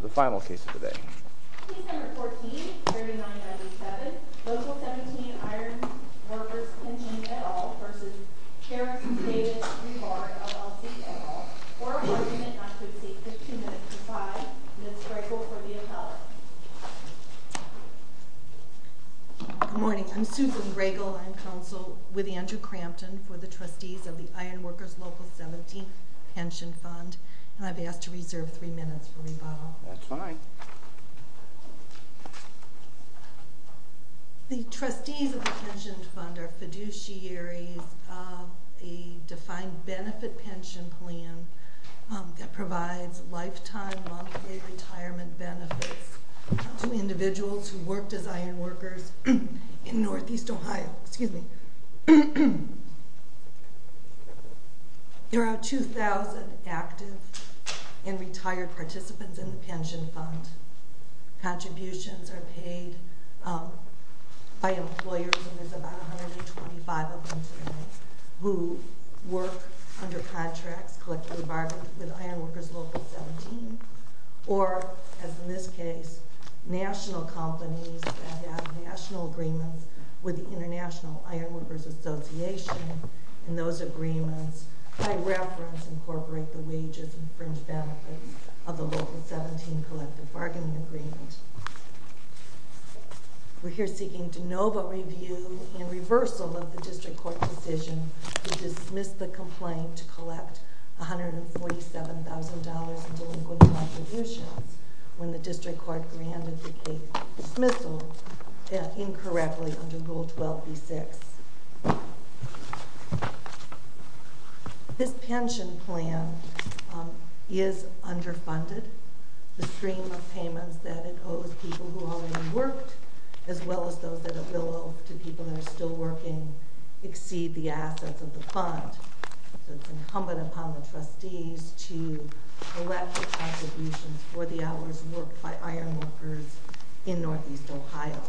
The final case of the day. Case number 14, 3997, Local 17 Iron Workers Pension et al. v. Harris Davis Rebar, LLC et al. For argument not to exceed 15 minutes to 5, Ms. Gregel for the appellate. Good morning. I'm Susan Gregel. I'm counsel with Andrew Crampton for the trustees of the Iron Workers Pension et al. That's fine. The trustees of the pension fund are fiduciaries of a defined benefit pension plan that provides lifetime, long-term retirement benefits to individuals who worked as iron workers in Northeast Ohio. There are 2,000 active and retired participants in the pension fund. Contributions are paid by employers, and there's about 125 of them today, who work under contracts, collectively bartered with Iron Workers Local 17, or, as in this case, national companies that have national agreements with the International Iron Workers Association, and those agreements, by reference, incorporate the wages and fringe benefits of the Local 17 collective bargaining agreement. We're here seeking de novo review and reversal of the district court decision to dismiss the complaint to collect $147,000 in delinquent contributions when the district court granted dismissal incorrectly under Rule 12b-6. This pension plan is underfunded. The stream of payments that it owes people who already worked, as well as those that it will owe to people that are still working, exceed the assets of the fund. It's incumbent upon the trustees to collect the contributions for the hours worked by iron workers in Northeast Ohio.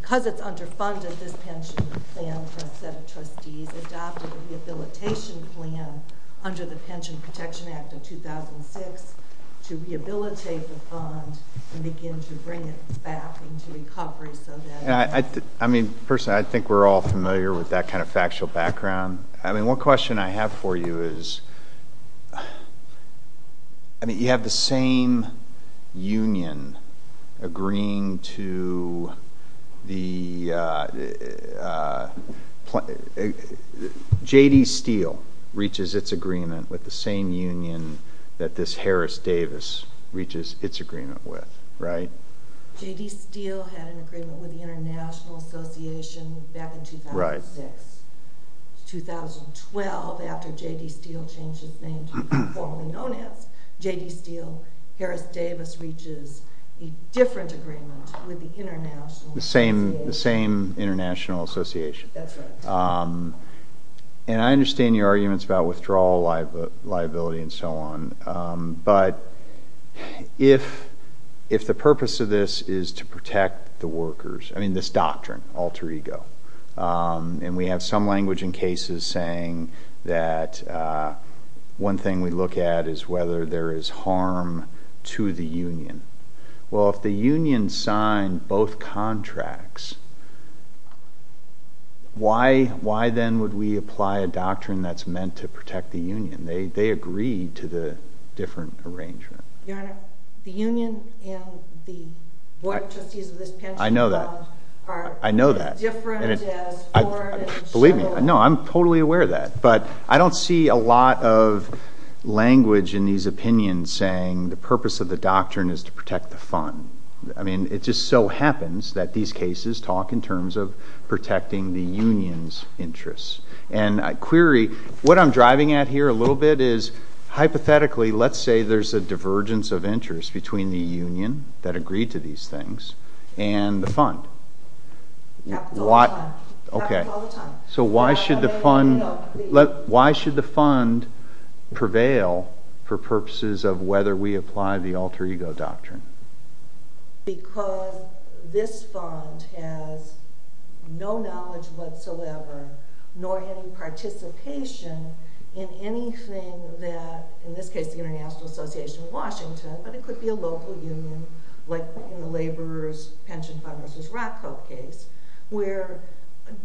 Because it's underfunded, this pension plan for a set of trustees adopted a rehabilitation plan under the Pension Protection Act of 2006 to rehabilitate the fund and begin to bring it back into recovery so that— I mean, personally, I think we're all familiar with that kind of agreement. You have the same union agreeing to the—J.D. Steele reaches its agreement with the same union that this Harris Davis reaches its agreement with, right? J.D. Steele had an agreement with the International Association back in 2006. 2012, after J.D. Steele changed his name to what was formerly known as J.D. Steele, Harris Davis reaches a different agreement with the International Association. The same International Association. That's right. And I understand your arguments about withdrawal, liability, and so on. But if the purpose of this is to protect the workers—I mean, this doctrine, alter ego, and we have some language in cases saying that one thing we look at is whether there is harm to the union. Well, if the union signed both contracts, why then would we apply a doctrine that's meant to protect the union? They agreed to the different arrangement. Your Honor, the union and the board of trustees of this pension fund— I know that. I know that. Believe me, I know. I'm totally aware of that. But I don't see a lot of language in these opinions saying the purpose of the doctrine is to protect the fund. I mean, it just so happens that these cases talk in terms of protecting the union's interests. And I query—what I'm driving at here a little bit is, hypothetically, let's say there's a divergence of interest between the union that agreed to these things and the fund. Happens all the time. Okay. So why should the fund prevail for purposes of whether we apply the alter ego doctrine? Because this fund has no knowledge whatsoever, nor any participation in anything that, in this case, the International Association of Washington, but it could be a local union, like in the laborers' pension fund versus RATCO case, where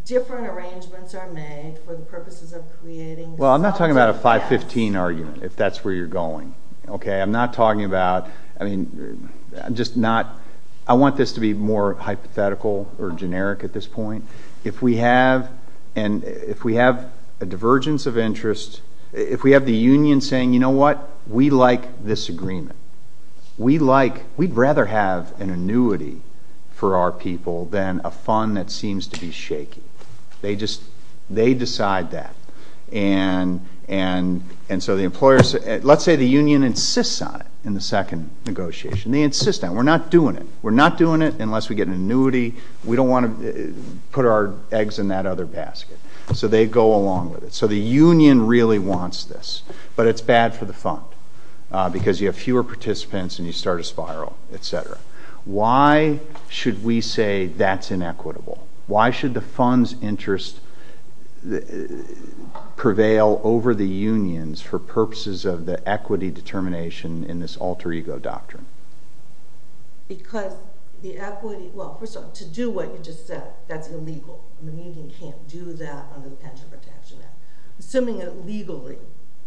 different arrangements are made for the purposes of creating— Well, I'm not talking about a 515 argument, if that's where you're going. Okay? I'm not talking about—I mean, I'm just not—I want this to be more hypothetical or generic at this point. If we have a divergence of interest, if we have the union saying, you know what, we like this agreement, we'd rather have an annuity for our people than a fund that seems to be shaky. They decide that. And so the employers—let's say the union insists on it in the second negotiation. They insist on it. We're not doing it. We're not doing it unless we get an annuity. We don't want to put our eggs in that other basket. So they go along with it. So the union really wants this, but it's bad for the fund because you have fewer participants and you start a spiral, etc. Why should we say that's inequitable? Why should the fund's interest prevail over the union's for purposes of the equity determination in this alter ego doctrine? Because the equity—well, first of all, to do what you just said, that's illegal. The union can't do that under the Pension Protection Act. Assuming it legally,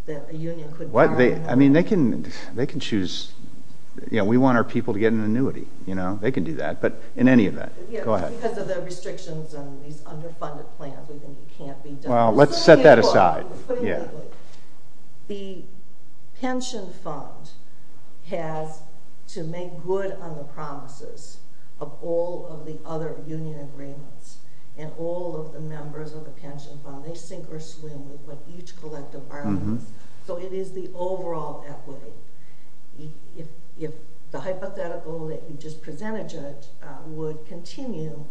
that a union could— I mean, they can choose—you know, we want our people to get an annuity, you know? They can do that. But in any event, go ahead. Because of the restrictions on these underfunded plans, we think it can't be done. Well, let's set that aside. Put it that way. The pension fund has to make good on the promises of all of the other union agreements and all of the members of the pension fund. They sink or swim with what each collective argues. So it is the overall equity. If the hypothetical that you just presented, Judge, would continue,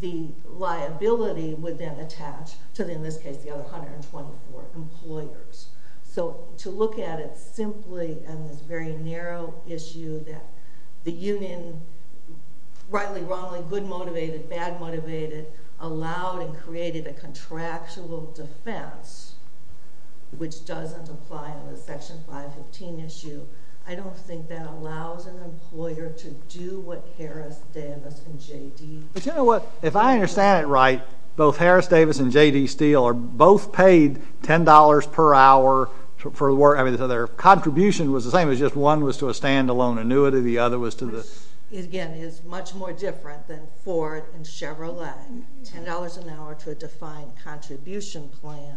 the liability would then attach to, in this case, the other 124 employers. So to look at it simply on this very narrow issue that the union—rightly, wrongly, good-motivated, bad-motivated—allowed and created a contractual defense which doesn't apply on the Section 515 issue, I don't think that allows an employer to do what Harris, Davis, and J.D.— But you know what? If I understand it right, both Harris, Davis, and J.D. Steele are both paid $10 per hour for—I mean, their contribution was the same. It was just one was to a standalone annuity. The other was to the— Again, it's much more different than Ford and Chevrolet. $10 an hour to a defined contribution plan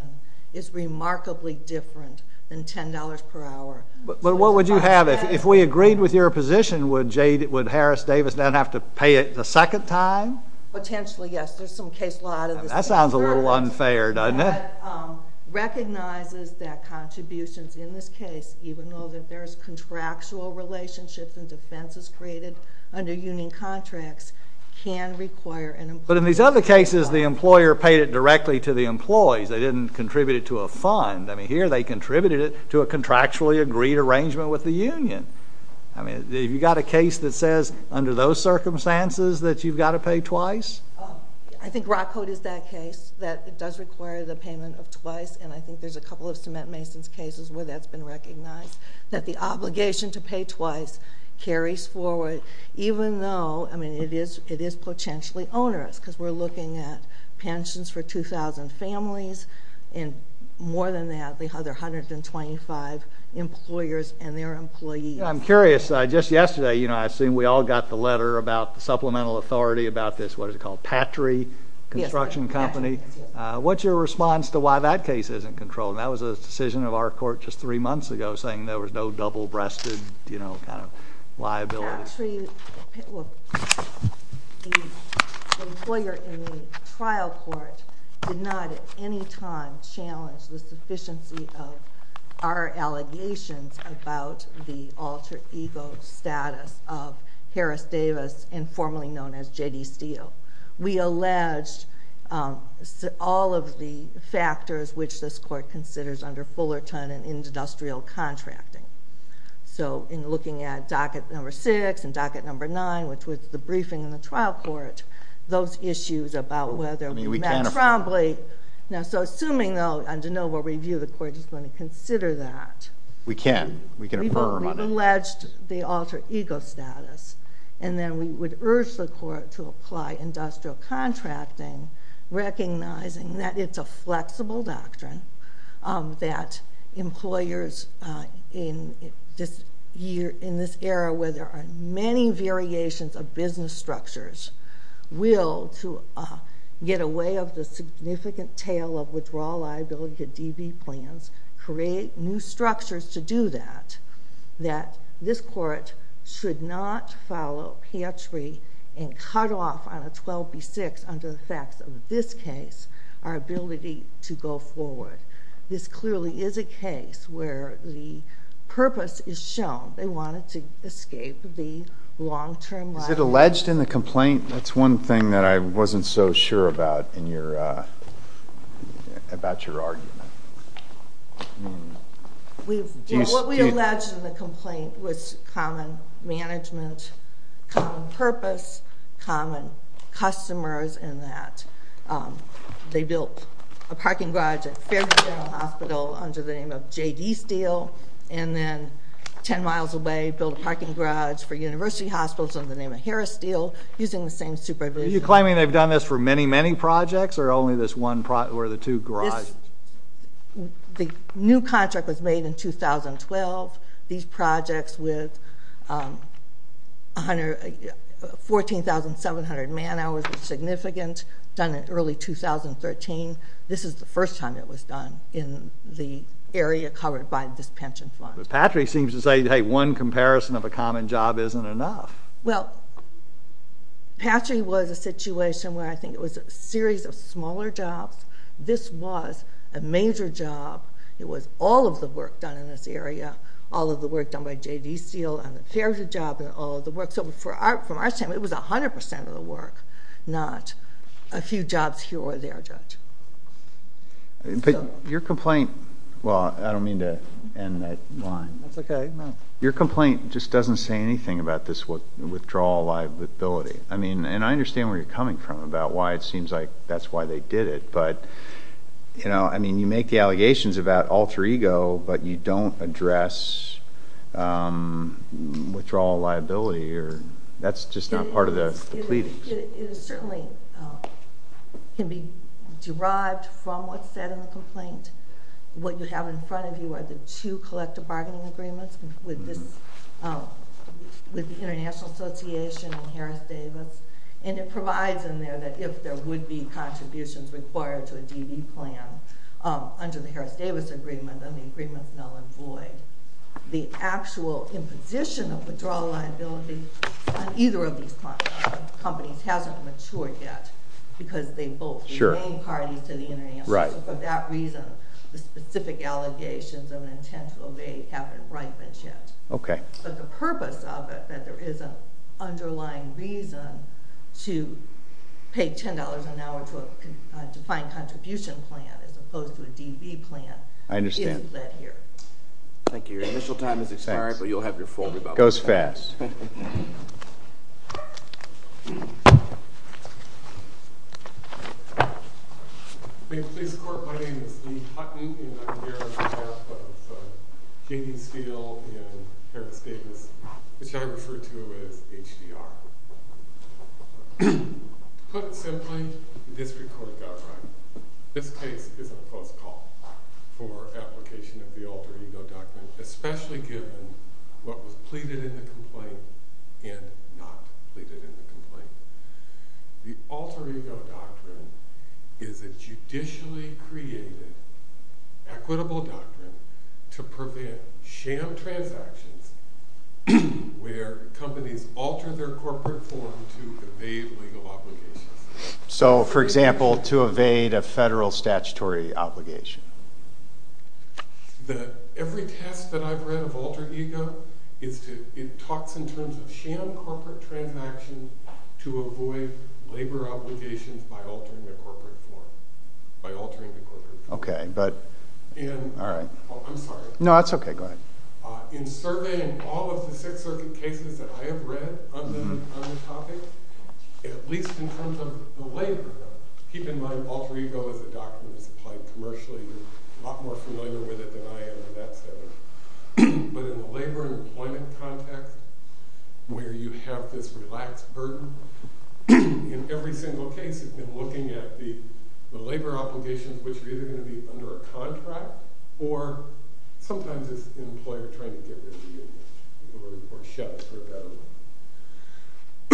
is remarkably different than $10 per hour. But what would you have—if we agreed with your position, would Harris, Davis, then have to pay it the second time? Potentially, yes. There's some case law out of the State of Georgia— That sounds a little unfair, doesn't it? —that recognizes that contributions in this case, even though that there's contractual relationships and defenses created under union contracts, can require an employer— They didn't contribute it to a fund. I mean, here, they contributed it to a contractually agreed arrangement with the union. I mean, have you got a case that says, under those circumstances, that you've got to pay twice? I think ROC Code is that case, that it does require the payment of twice, and I think there's a couple of cement mason's cases where that's been recognized, that the obligation to pay twice carries forward, even though—I mean, it is potentially onerous, because we're looking at 2,000 families, and more than that, they have their 125 employers and their employees. I'm curious. Just yesterday, I assume we all got the letter about the supplemental authority about this—what is it called?—Patry Construction Company. What's your response to why that case isn't controlled? That was a decision of our court just three months ago, saying there was no double-breasted kind of liability. Well, the lawyer in the trial court did not, at any time, challenge the sufficiency of our allegations about the alter ego status of Harris Davis and formerly known as J.D. Steele. We alleged all of the factors which this court considers under Fullerton and industrial contracting. So, in looking at docket number six and docket number nine, which was the briefing in the trial court, those issues about whether—I mean, we can't— Now, so assuming, though, on de novo review, the court is going to consider that— We can. We can affirm on it. We've alleged the alter ego status, and then we would urge the court to apply industrial contracting, recognizing that it's a flexible doctrine, that employers in this era where there are many variations of business structures will, to get away of the significant tail of withdrawal liability to DB plans, create new structures to do that, that this court should not follow and cut off on a 12B6 under the facts of this case our ability to go forward. This clearly is a case where the purpose is shown. They wanted to escape the long-term liability. Is it alleged in the complaint? That's one thing that I wasn't so sure about in your—about your argument. Well, what we alleged in the complaint was common management, common purpose, common customers, and that they built a parking garage at Fairview General Hospital under the name of J.D. Steele, and then 10 miles away built a parking garage for University Hospitals under the name of Harris Steele using the same supervision. Are you claiming they've done this for many, many projects, or only this one—or the two garages? The new contract was made in 2012. These projects with 14,700 man-hours was significant, done in early 2013. This is the first time it was done in the area covered by this pension fund. But Patrick seems to say, hey, one comparison of a common job isn't enough. Well, Patrick was a situation where I think it was a series of smaller jobs. This was a major job. It was all of the work done in this area, all of the work done by J.D. Steele on the Fairview job and all of the work. So from our standpoint, it was 100 percent of the work, not a few jobs here or there, Judge. But your complaint—well, I don't mean to end that line. That's okay, no. Your complaint just doesn't say anything about this withdrawal liability. I mean, and I understand where you're coming from about why it seems like that's why they did it. But, you know, I mean, you make the allegations about alter ego, but you don't address withdrawal liability. That's just not part of the plea. It certainly can be derived from what's said in the complaint. What you have in front of you are two collective bargaining agreements with the International Association and Harris-Davis, and it provides in there that if there would be contributions required to a D.D. plan under the Harris-Davis agreement, then the agreement's null and void. The actual imposition of withdrawal liability on either of these companies hasn't matured yet because they both remain parties to the International Association. For that reason, the specific allegations of an intent to evade haven't ripened yet. Okay. But the purpose of it, that there is an underlying reason to pay $10 an hour to a defined contribution plan as opposed to a D.D. plan—I understand. Thank you. Your initial time has expired, but you'll have your full rebuttal. It goes fast. Thank you, please. My name is Lee Hutton, and I'm here on behalf of J.D. Steele and Harris-Davis, which I refer to as HDR. Put simply, this record got right. This case is a close call for application of the alter ego doctrine, especially given what was pleaded in the complaint and not pleaded in the complaint. The alter ego doctrine is a judicially created equitable doctrine to prevent sham transactions where companies alter their corporate form to evade legal obligations. So, for example, to evade a federal statutory obligation. Every test that I've read of alter ego talks in terms of sham corporate transactions to avoid labor obligations by altering the corporate form. I'm sorry. No, that's okay. Go ahead. In surveying all of the Sixth Circuit cases that I have read on the topic, at least in terms of the labor, keep in mind alter ego is a doctrine that's applied commercially. You're a lot more familiar with it than I am in that setting. But in the labor and employment context, where you have this relaxed burden, in every single case you've been looking at the labor obligations, which are either going to be under a contract or sometimes it's an employer trying to get rid of you or shut for a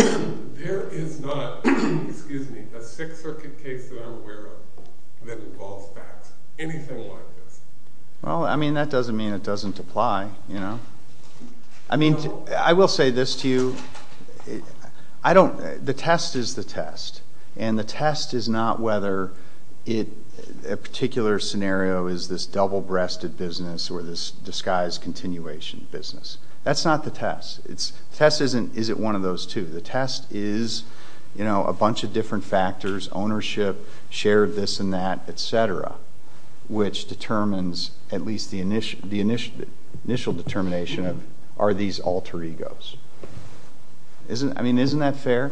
better one, there is not a Sixth Circuit case that I'm aware of that involves facts, anything like this. Well, I mean, that doesn't mean it doesn't apply. I mean, I will say this to you. The test is the test. And the test is not whether a particular scenario is this double-breasted business or this disguised continuation business. That's not the test. The test isn't one of those two. The test is a bunch of different factors, ownership, share of this and that, et cetera, which determines at least the initial determination of, are these alter egos? I mean, isn't that fair?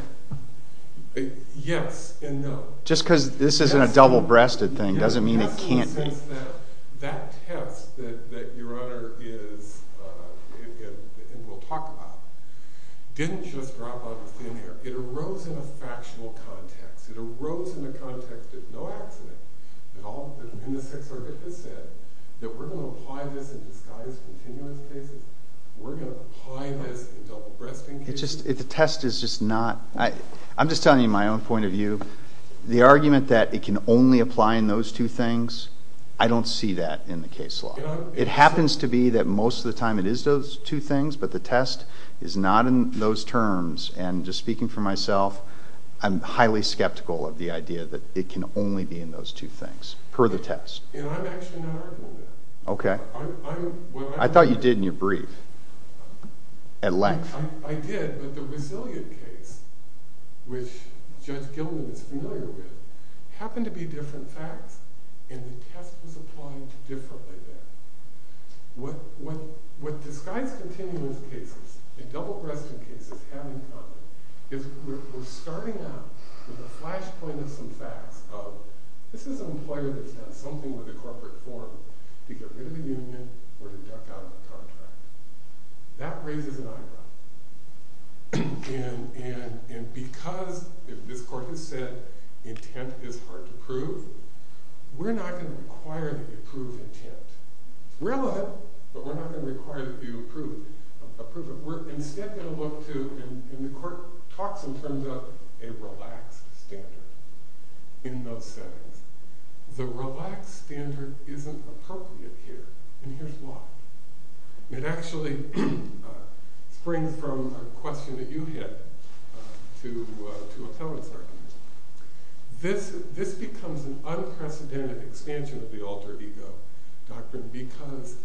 Yes and no. Just because this isn't a double-breasted thing doesn't mean it can't be. That test that your honor is, and we'll talk about, didn't just drop out of thin air. It arose in a factional context. It arose in the context of no accident. And the Sixth Circuit, the test is just not, I'm just telling you my own point of view, the argument that it can only apply in those two things, I don't see that in the case law. It happens to be that most of the time it is those two things, but the test is not in those terms. And just speaking for myself, I'm highly skeptical of the idea that it can only be in those two things per the test. And I'm actually not arguing that. Okay. I thought you did in your brief. At length. I did, but the Resilient case, which Judge Gilman is familiar with, happened to be different facts, and the test was applied to differently there. What disguised continuance cases and double-breasted cases have in common, is we're starting out with a flashpoint of some facts of, this is an employer that's something with a corporate form to get rid of the union or to duck out of the contract. That raises an eyebrow. And because, as this court has said, intent is hard to prove, we're not going to require that you prove intent. It's relevant, but we're not going to require that you approve it. We're instead going to look to, and the court talks in terms of a relaxed standard in those settings. The relaxed standard isn't appropriate here, and here's why. It actually springs from a question that you hit, to a felon's argument. This becomes an unprecedented expansion of the Alter Ego Doctrine because,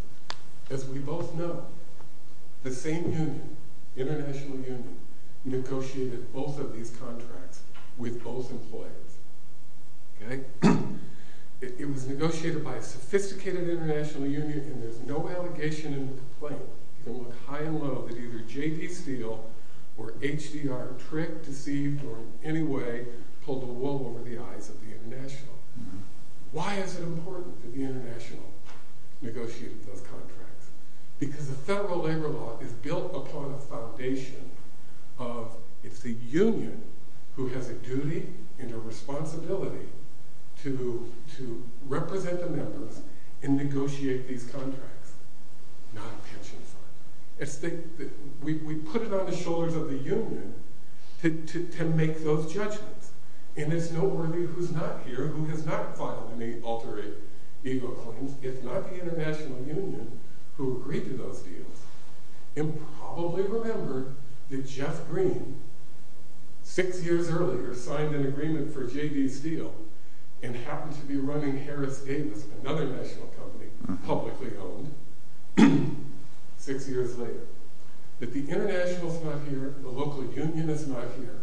as we both know, the same union, international union, negotiated both of these contracts with both employers. Okay? It was negotiated by a sophisticated international union, and there's no allegation in the complaint. You can look high and low that either J.P. Steele or H.D.R. tricked, deceived, or in any way pulled the wool over the eyes of the international. Why is it important that the is built upon a foundation of, it's the union who has a duty and a responsibility to represent the members and negotiate these contracts, not a pension fund. We put it on the shoulders of the union to make those judgments, and there's no worthy who's not here, who has not filed any alter ego claims, if not the international union who agreed to those deals, and probably remembered that Jeff Green, six years earlier, signed an agreement for J.D. Steele, and happened to be running Harris Davis, another national company, publicly owned, six years later. That the international's not here, the local union is not here,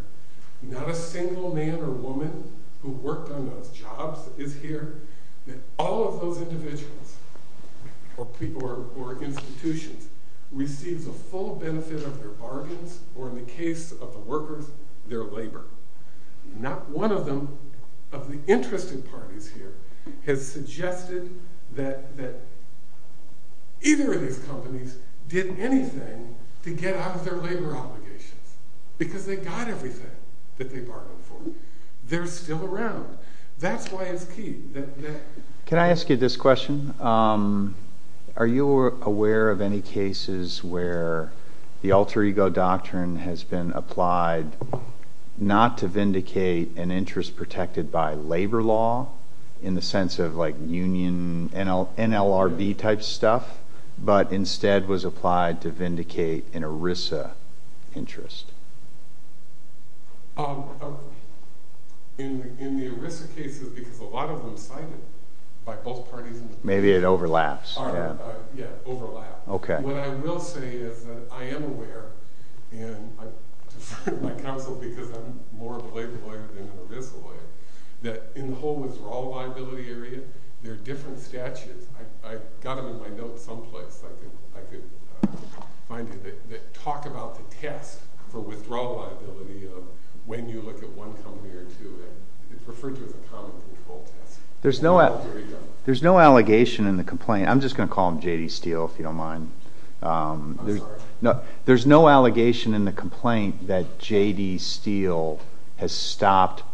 not a single man or woman who worked on those jobs is here, that all of those individuals or people or institutions receives a full benefit of their bargains, or in the case of the workers, their labor. Not one of them, of the interested parties here, has suggested that either of these companies did anything to get out of their labor obligations, because they got everything that they bargained for. They're still around. That's why it's key. Can I ask you this question? Are you aware of any cases where the alter ego doctrine has been applied not to vindicate an interest protected by labor law, in the sense of like union, NLRB interest? In the ERISA cases, because a lot of them cited by both parties. Maybe it overlaps. Yeah, overlap. Okay. What I will say is that I am aware, and I defer to my counsel because I'm more of a labor lawyer than an ERISA lawyer, that in the whole withdrawal liability area, there are different statutes, I've got them in my notes someplace, I could find it, that talk about the test for withdrawal liability of when you look at one company or two, and it's referred to as a common control test. There's no allegation in the complaint. I'm just going to call him J.D. Steele, if you don't mind. There's no allegation in the complaint that J.D. Steele has stopped the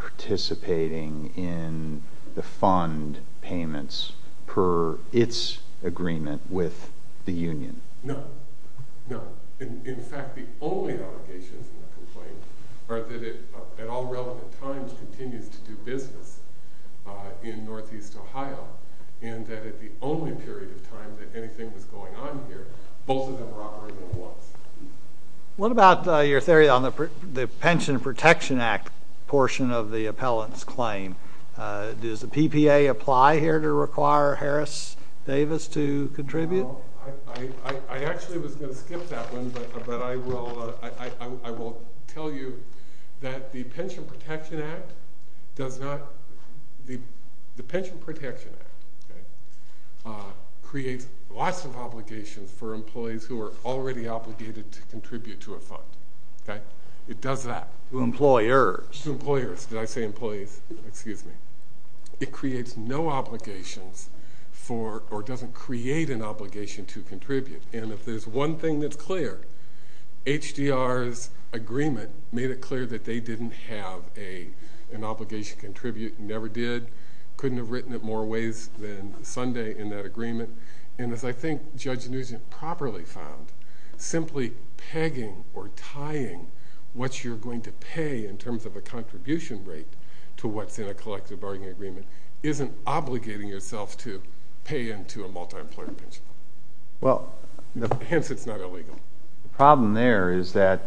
only allegations in the complaint are that it, at all relevant times, continues to do business in Northeast Ohio, and that at the only period of time that anything was going on here, both of them were operating at once. What about your theory on the Pension Protection Act portion of the appellant's claim? Does the PPA apply here to require Harris Davis to contribute? I actually was going to skip that one, but I will tell you that the Pension Protection Act does not, the Pension Protection Act creates lots of obligations for employees who are already obligated to contribute to a fund. It does that. To employers. To employers. Did I say employees? Excuse me. It creates no obligations for, or doesn't create an obligation to contribute, and if there's one thing that's clear, HDR's agreement made it clear that they didn't have an obligation to contribute, never did, couldn't have written it more ways than Sunday in that agreement, and as I think Judge Nugent properly found, simply pegging or tying what you're going to pay in terms of a contribution rate to what's in a collective bargaining agreement isn't obligating yourself to pay into a multi-employer pension fund, hence it's not illegal. The problem there is that,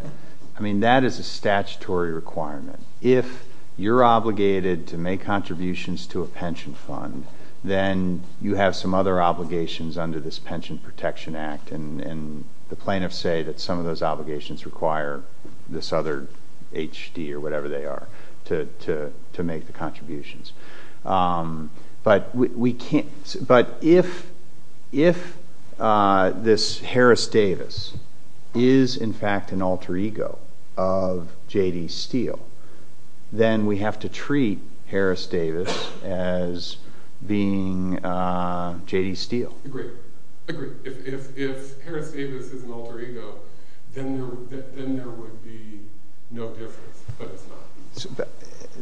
I mean, that is a statutory requirement. If you're obligated to make contributions to a pension fund, then you have some other obligations under this Pension Protection Act, and the plaintiffs say that some of those obligations require this other HD or whatever they are to make the contributions, but we can't, but if this Harris Davis is in fact an alter ego of J.D. Steele, then we have to treat Harris Davis as being J.D. Steele. Agreed. If Harris Davis is an alter ego, then there would be no difference, but it's not.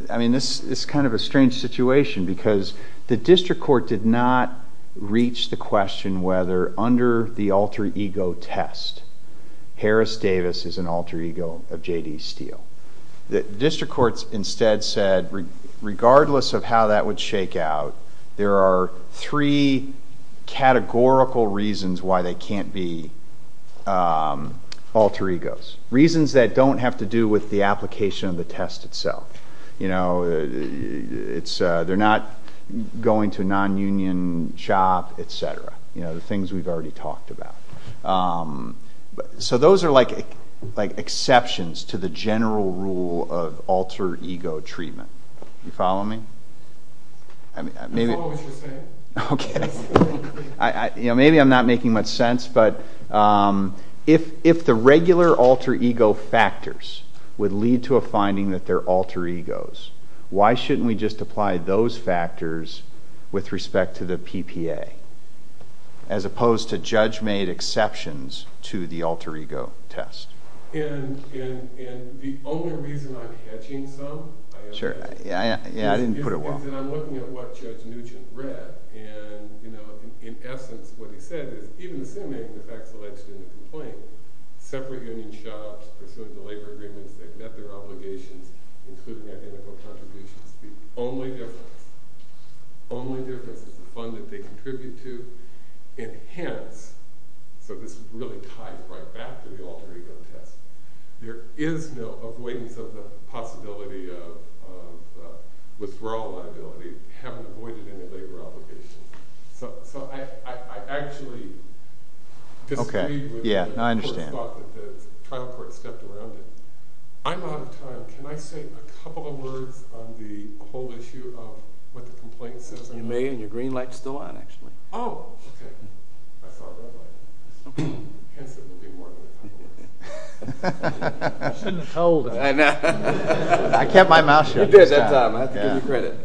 I mean, this is kind of a strange situation because the district court did not reach the question whether under the alter ego test, Harris Davis is an alter ego of J.D. Steele. The district courts instead said, regardless of how that would shake out, there are three categorical reasons why they can't be alter egos. Reasons that don't have to do with the application of the test itself. You know, they're not going to a non-union shop, etc. You know, the things we've already talked about. So those are like exceptions to the general rule of alter ego. Maybe I'm not making much sense, but if the regular alter ego factors would lead to a finding that they're alter egos, why shouldn't we just apply those factors with respect to the PPA, as opposed to judge made exceptions to the alter ego test? And the only reason I'm looking at what Judge Nugent read, and you know, in essence, what he said is even assuming the facts alleged in the complaint, separate union shops pursuing the labor agreements that met their obligations, including identical contributions, the only difference is the fund that they contribute to. And hence, so this really ties right back to the alter ego test, there is no weightiness of the possibility of withdrawal liability, having avoided any labor obligations. So I actually disagree with the thought that the trial court stepped around it. I'm out of time. Can I say a couple of words on the whole issue of what the complaint says? You may, and your green light's still on, actually. Oh, okay. I saw a red light. Hence, it will be more than a couple of words. You shouldn't have told him. I know. I kept my mouth shut. You did that time, I have to give you credit.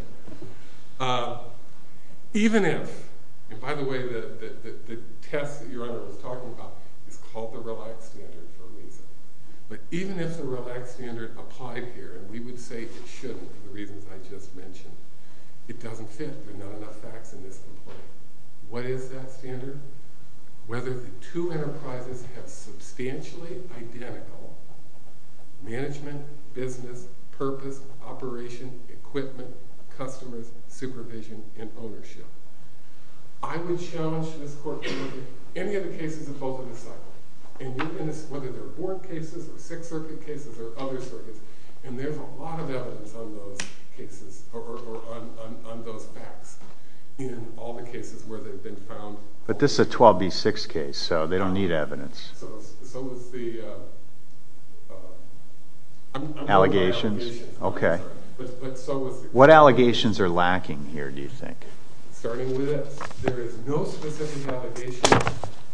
Even if, and by the way, the test that your honor was talking about is called the relaxed standard for a reason, but even if the relaxed standard applied here, and we would say it shouldn't for the reasons I just mentioned, it doesn't fit. There are not enough facts in this What is that standard? Whether the two enterprises have substantially identical management, business, purpose, operation, equipment, customers, supervision, and ownership. I would challenge this court to look at any of the cases of both of the cycles, and you can ask whether there are four cases or six circuit cases or other circuits, and there's a lot of evidence on those cases, or on those facts, in all the cases where they've been found. But this is a 12B6 case, so they don't need evidence. So is the allegations. Okay. What allegations are lacking here, do you think? Starting with this, there is no specific allegation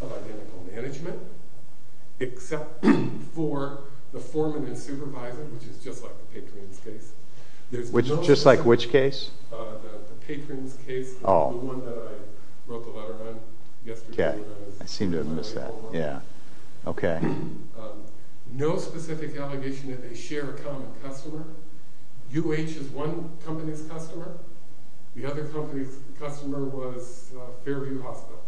of identical management, except for the foreman and supervisor, which is just like the patrons case. Which is just like which case? The patrons case, the one that I wrote the letter on yesterday. Okay, I seem to have missed that. Yeah, okay. No specific allegation that they share a common customer. UH is one company's customer, the other company's customer was Fairview Hospital.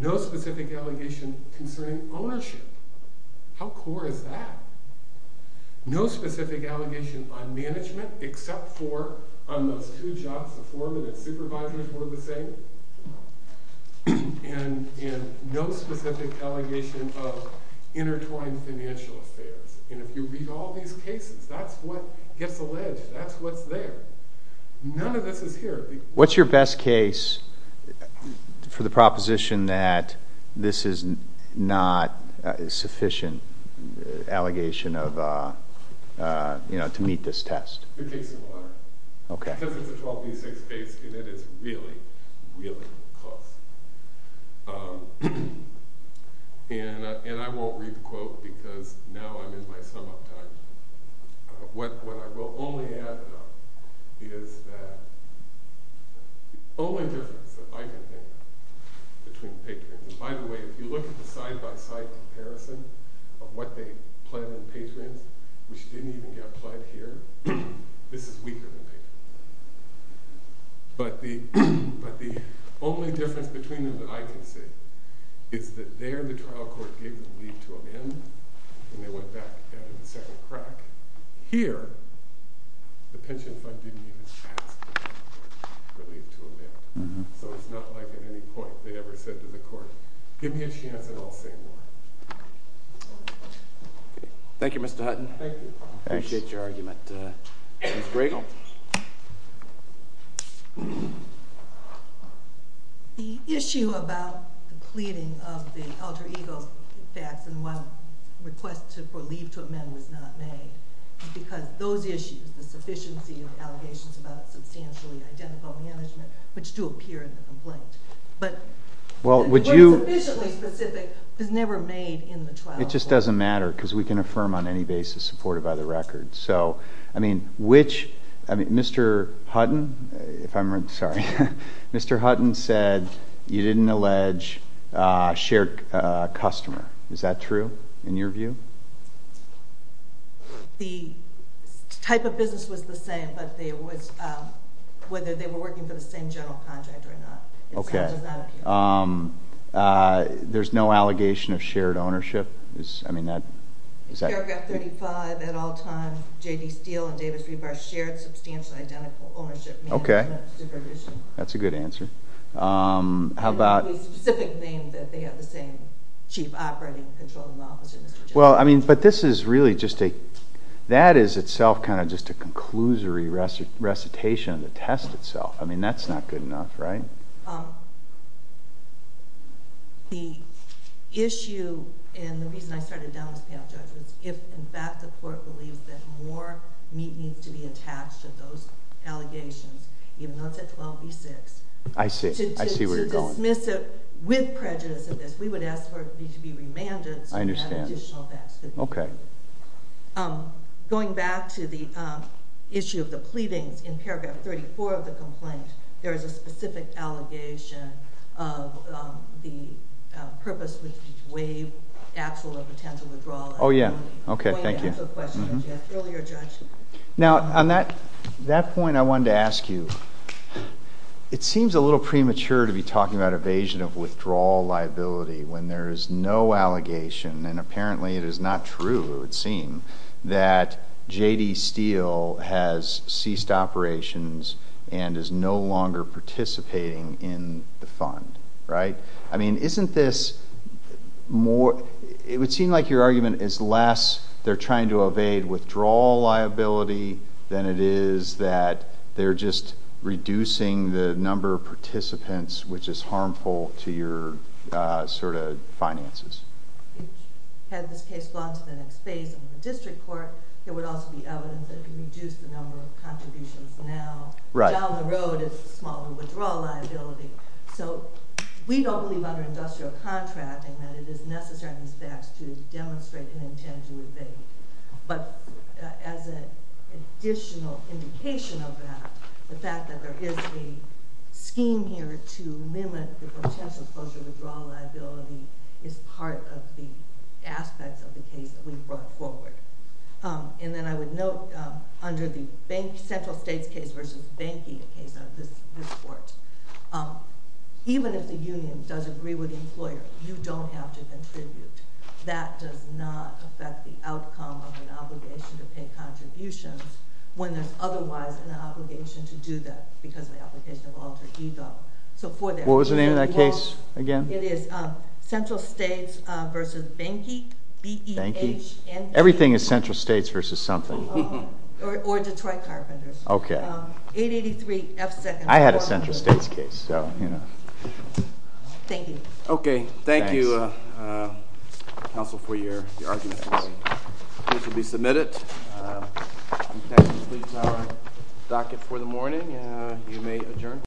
No specific allegation concerning ownership. How core is that? No specific allegation on management, except for on those two jobs, the foreman and supervisors were the same. And no specific allegation of intertwined financial affairs. And if you read all these cases, that's what gets alleged, that's what's there. None of this is here. What's your best case for the proposition that this is not a sufficient allegation to meet this test? The case of water. Okay. Because it's a 12B6 case and it is really, really close. And I won't read the quote because now I'm in my sum up time. What I will only add is that the only difference that I can think of between patrons, and by the way, if you look at the side-by-side comparison of what they pled in patrons, which didn't even get pled here, this is weaker than patrons. But the only difference between them that I can see is that there the trial court gave the leave to amend and they went back out of the second crack. Here, the pension fund didn't even ask for leave to amend. So it's not like at any point they ever said to the court, give me a chance and I'll say more. Thank you, Mr. Hutton. I appreciate your argument. Ms. Griegel. The issue about the pleading of the alter ego facts and one request for leave to amend was not made because those issues, the sufficiency of allegations about substantially identical management, which do appear in the complaint, but the word sufficiently specific was never made in the trial court. It just doesn't matter because we can affirm on any basis supported by the record. So, I mean, which, I mean, Mr. Hutton, if I'm sorry, Mr. Hutton said you didn't allege shared customer. Is that true in your view? The type of business was the same, but there was, whether they were working for the same general contract or not. Okay. Um, uh, there's no allegation of shared ownership is, I mean, that is that paragraph 35 at all time J.D. Steele and Davis Rebar shared substantial identical ownership. Okay. That's a good answer. Um, how about the same chief operating control? Well, I mean, but this is really just a, that is itself kind of just a conclusory recitation of the test itself. I mean, that's not good enough, right? Um, the issue and the reason I started down this path judgments, if in fact the court believes that more meat needs to be attached to those allegations, even though it's at 12 v six, I see, I see where you're going with prejudice of this. We would ask for me to be remanded. I understand. Okay. Um, going back to the, um, issue of the pleadings in paragraph 34 of the complaint, there is a specific allegation of, um, the purpose with wave axle of potential withdrawal. Oh yeah. Okay. Thank you. Earlier, now on that, that point I wanted to ask you, it seems a little premature to be talking about evasion of withdrawal liability when there is no allegation. And apparently it is not true. It would that J. D. Steel has ceased operations and is no longer participating in the fund, right? I mean, isn't this more, it would seem like your argument is less. They're trying to evade withdrawal liability than it is that they're just reducing the number of participants, which is harmful to sort of finances. Had this case gone to the next phase of the district court, there would also be evidence that it can reduce the number of contributions. Now down the road, it's a smaller withdrawal liability. So we don't believe under industrial contracting that it is necessary on these facts to demonstrate an intent to evade. But as an additional indication of that, the fact that there is a scheme here to limit the potential closure withdrawal liability is part of the aspects of the case that we've brought forward. Um, and then I would note, um, under the bank, central states case versus banking case on this court, um, even if the union does agree with the employer, you don't have to contribute. That does not affect the outcome of an obligation to pay contributions when there's otherwise an obligation to do that because of the application of alter ego. So for that, what was the name of that case again? It is, um, central states, uh, versus banky. Everything is central states versus something or Detroit carpenters. Okay. Um, 883 F second. I had a central states case. So, you know, thank you. Okay. Thank you. Uh, uh, Council for your arguments. This will be submitted. Um, that completes our docket for the morning. Uh, you may adjourn.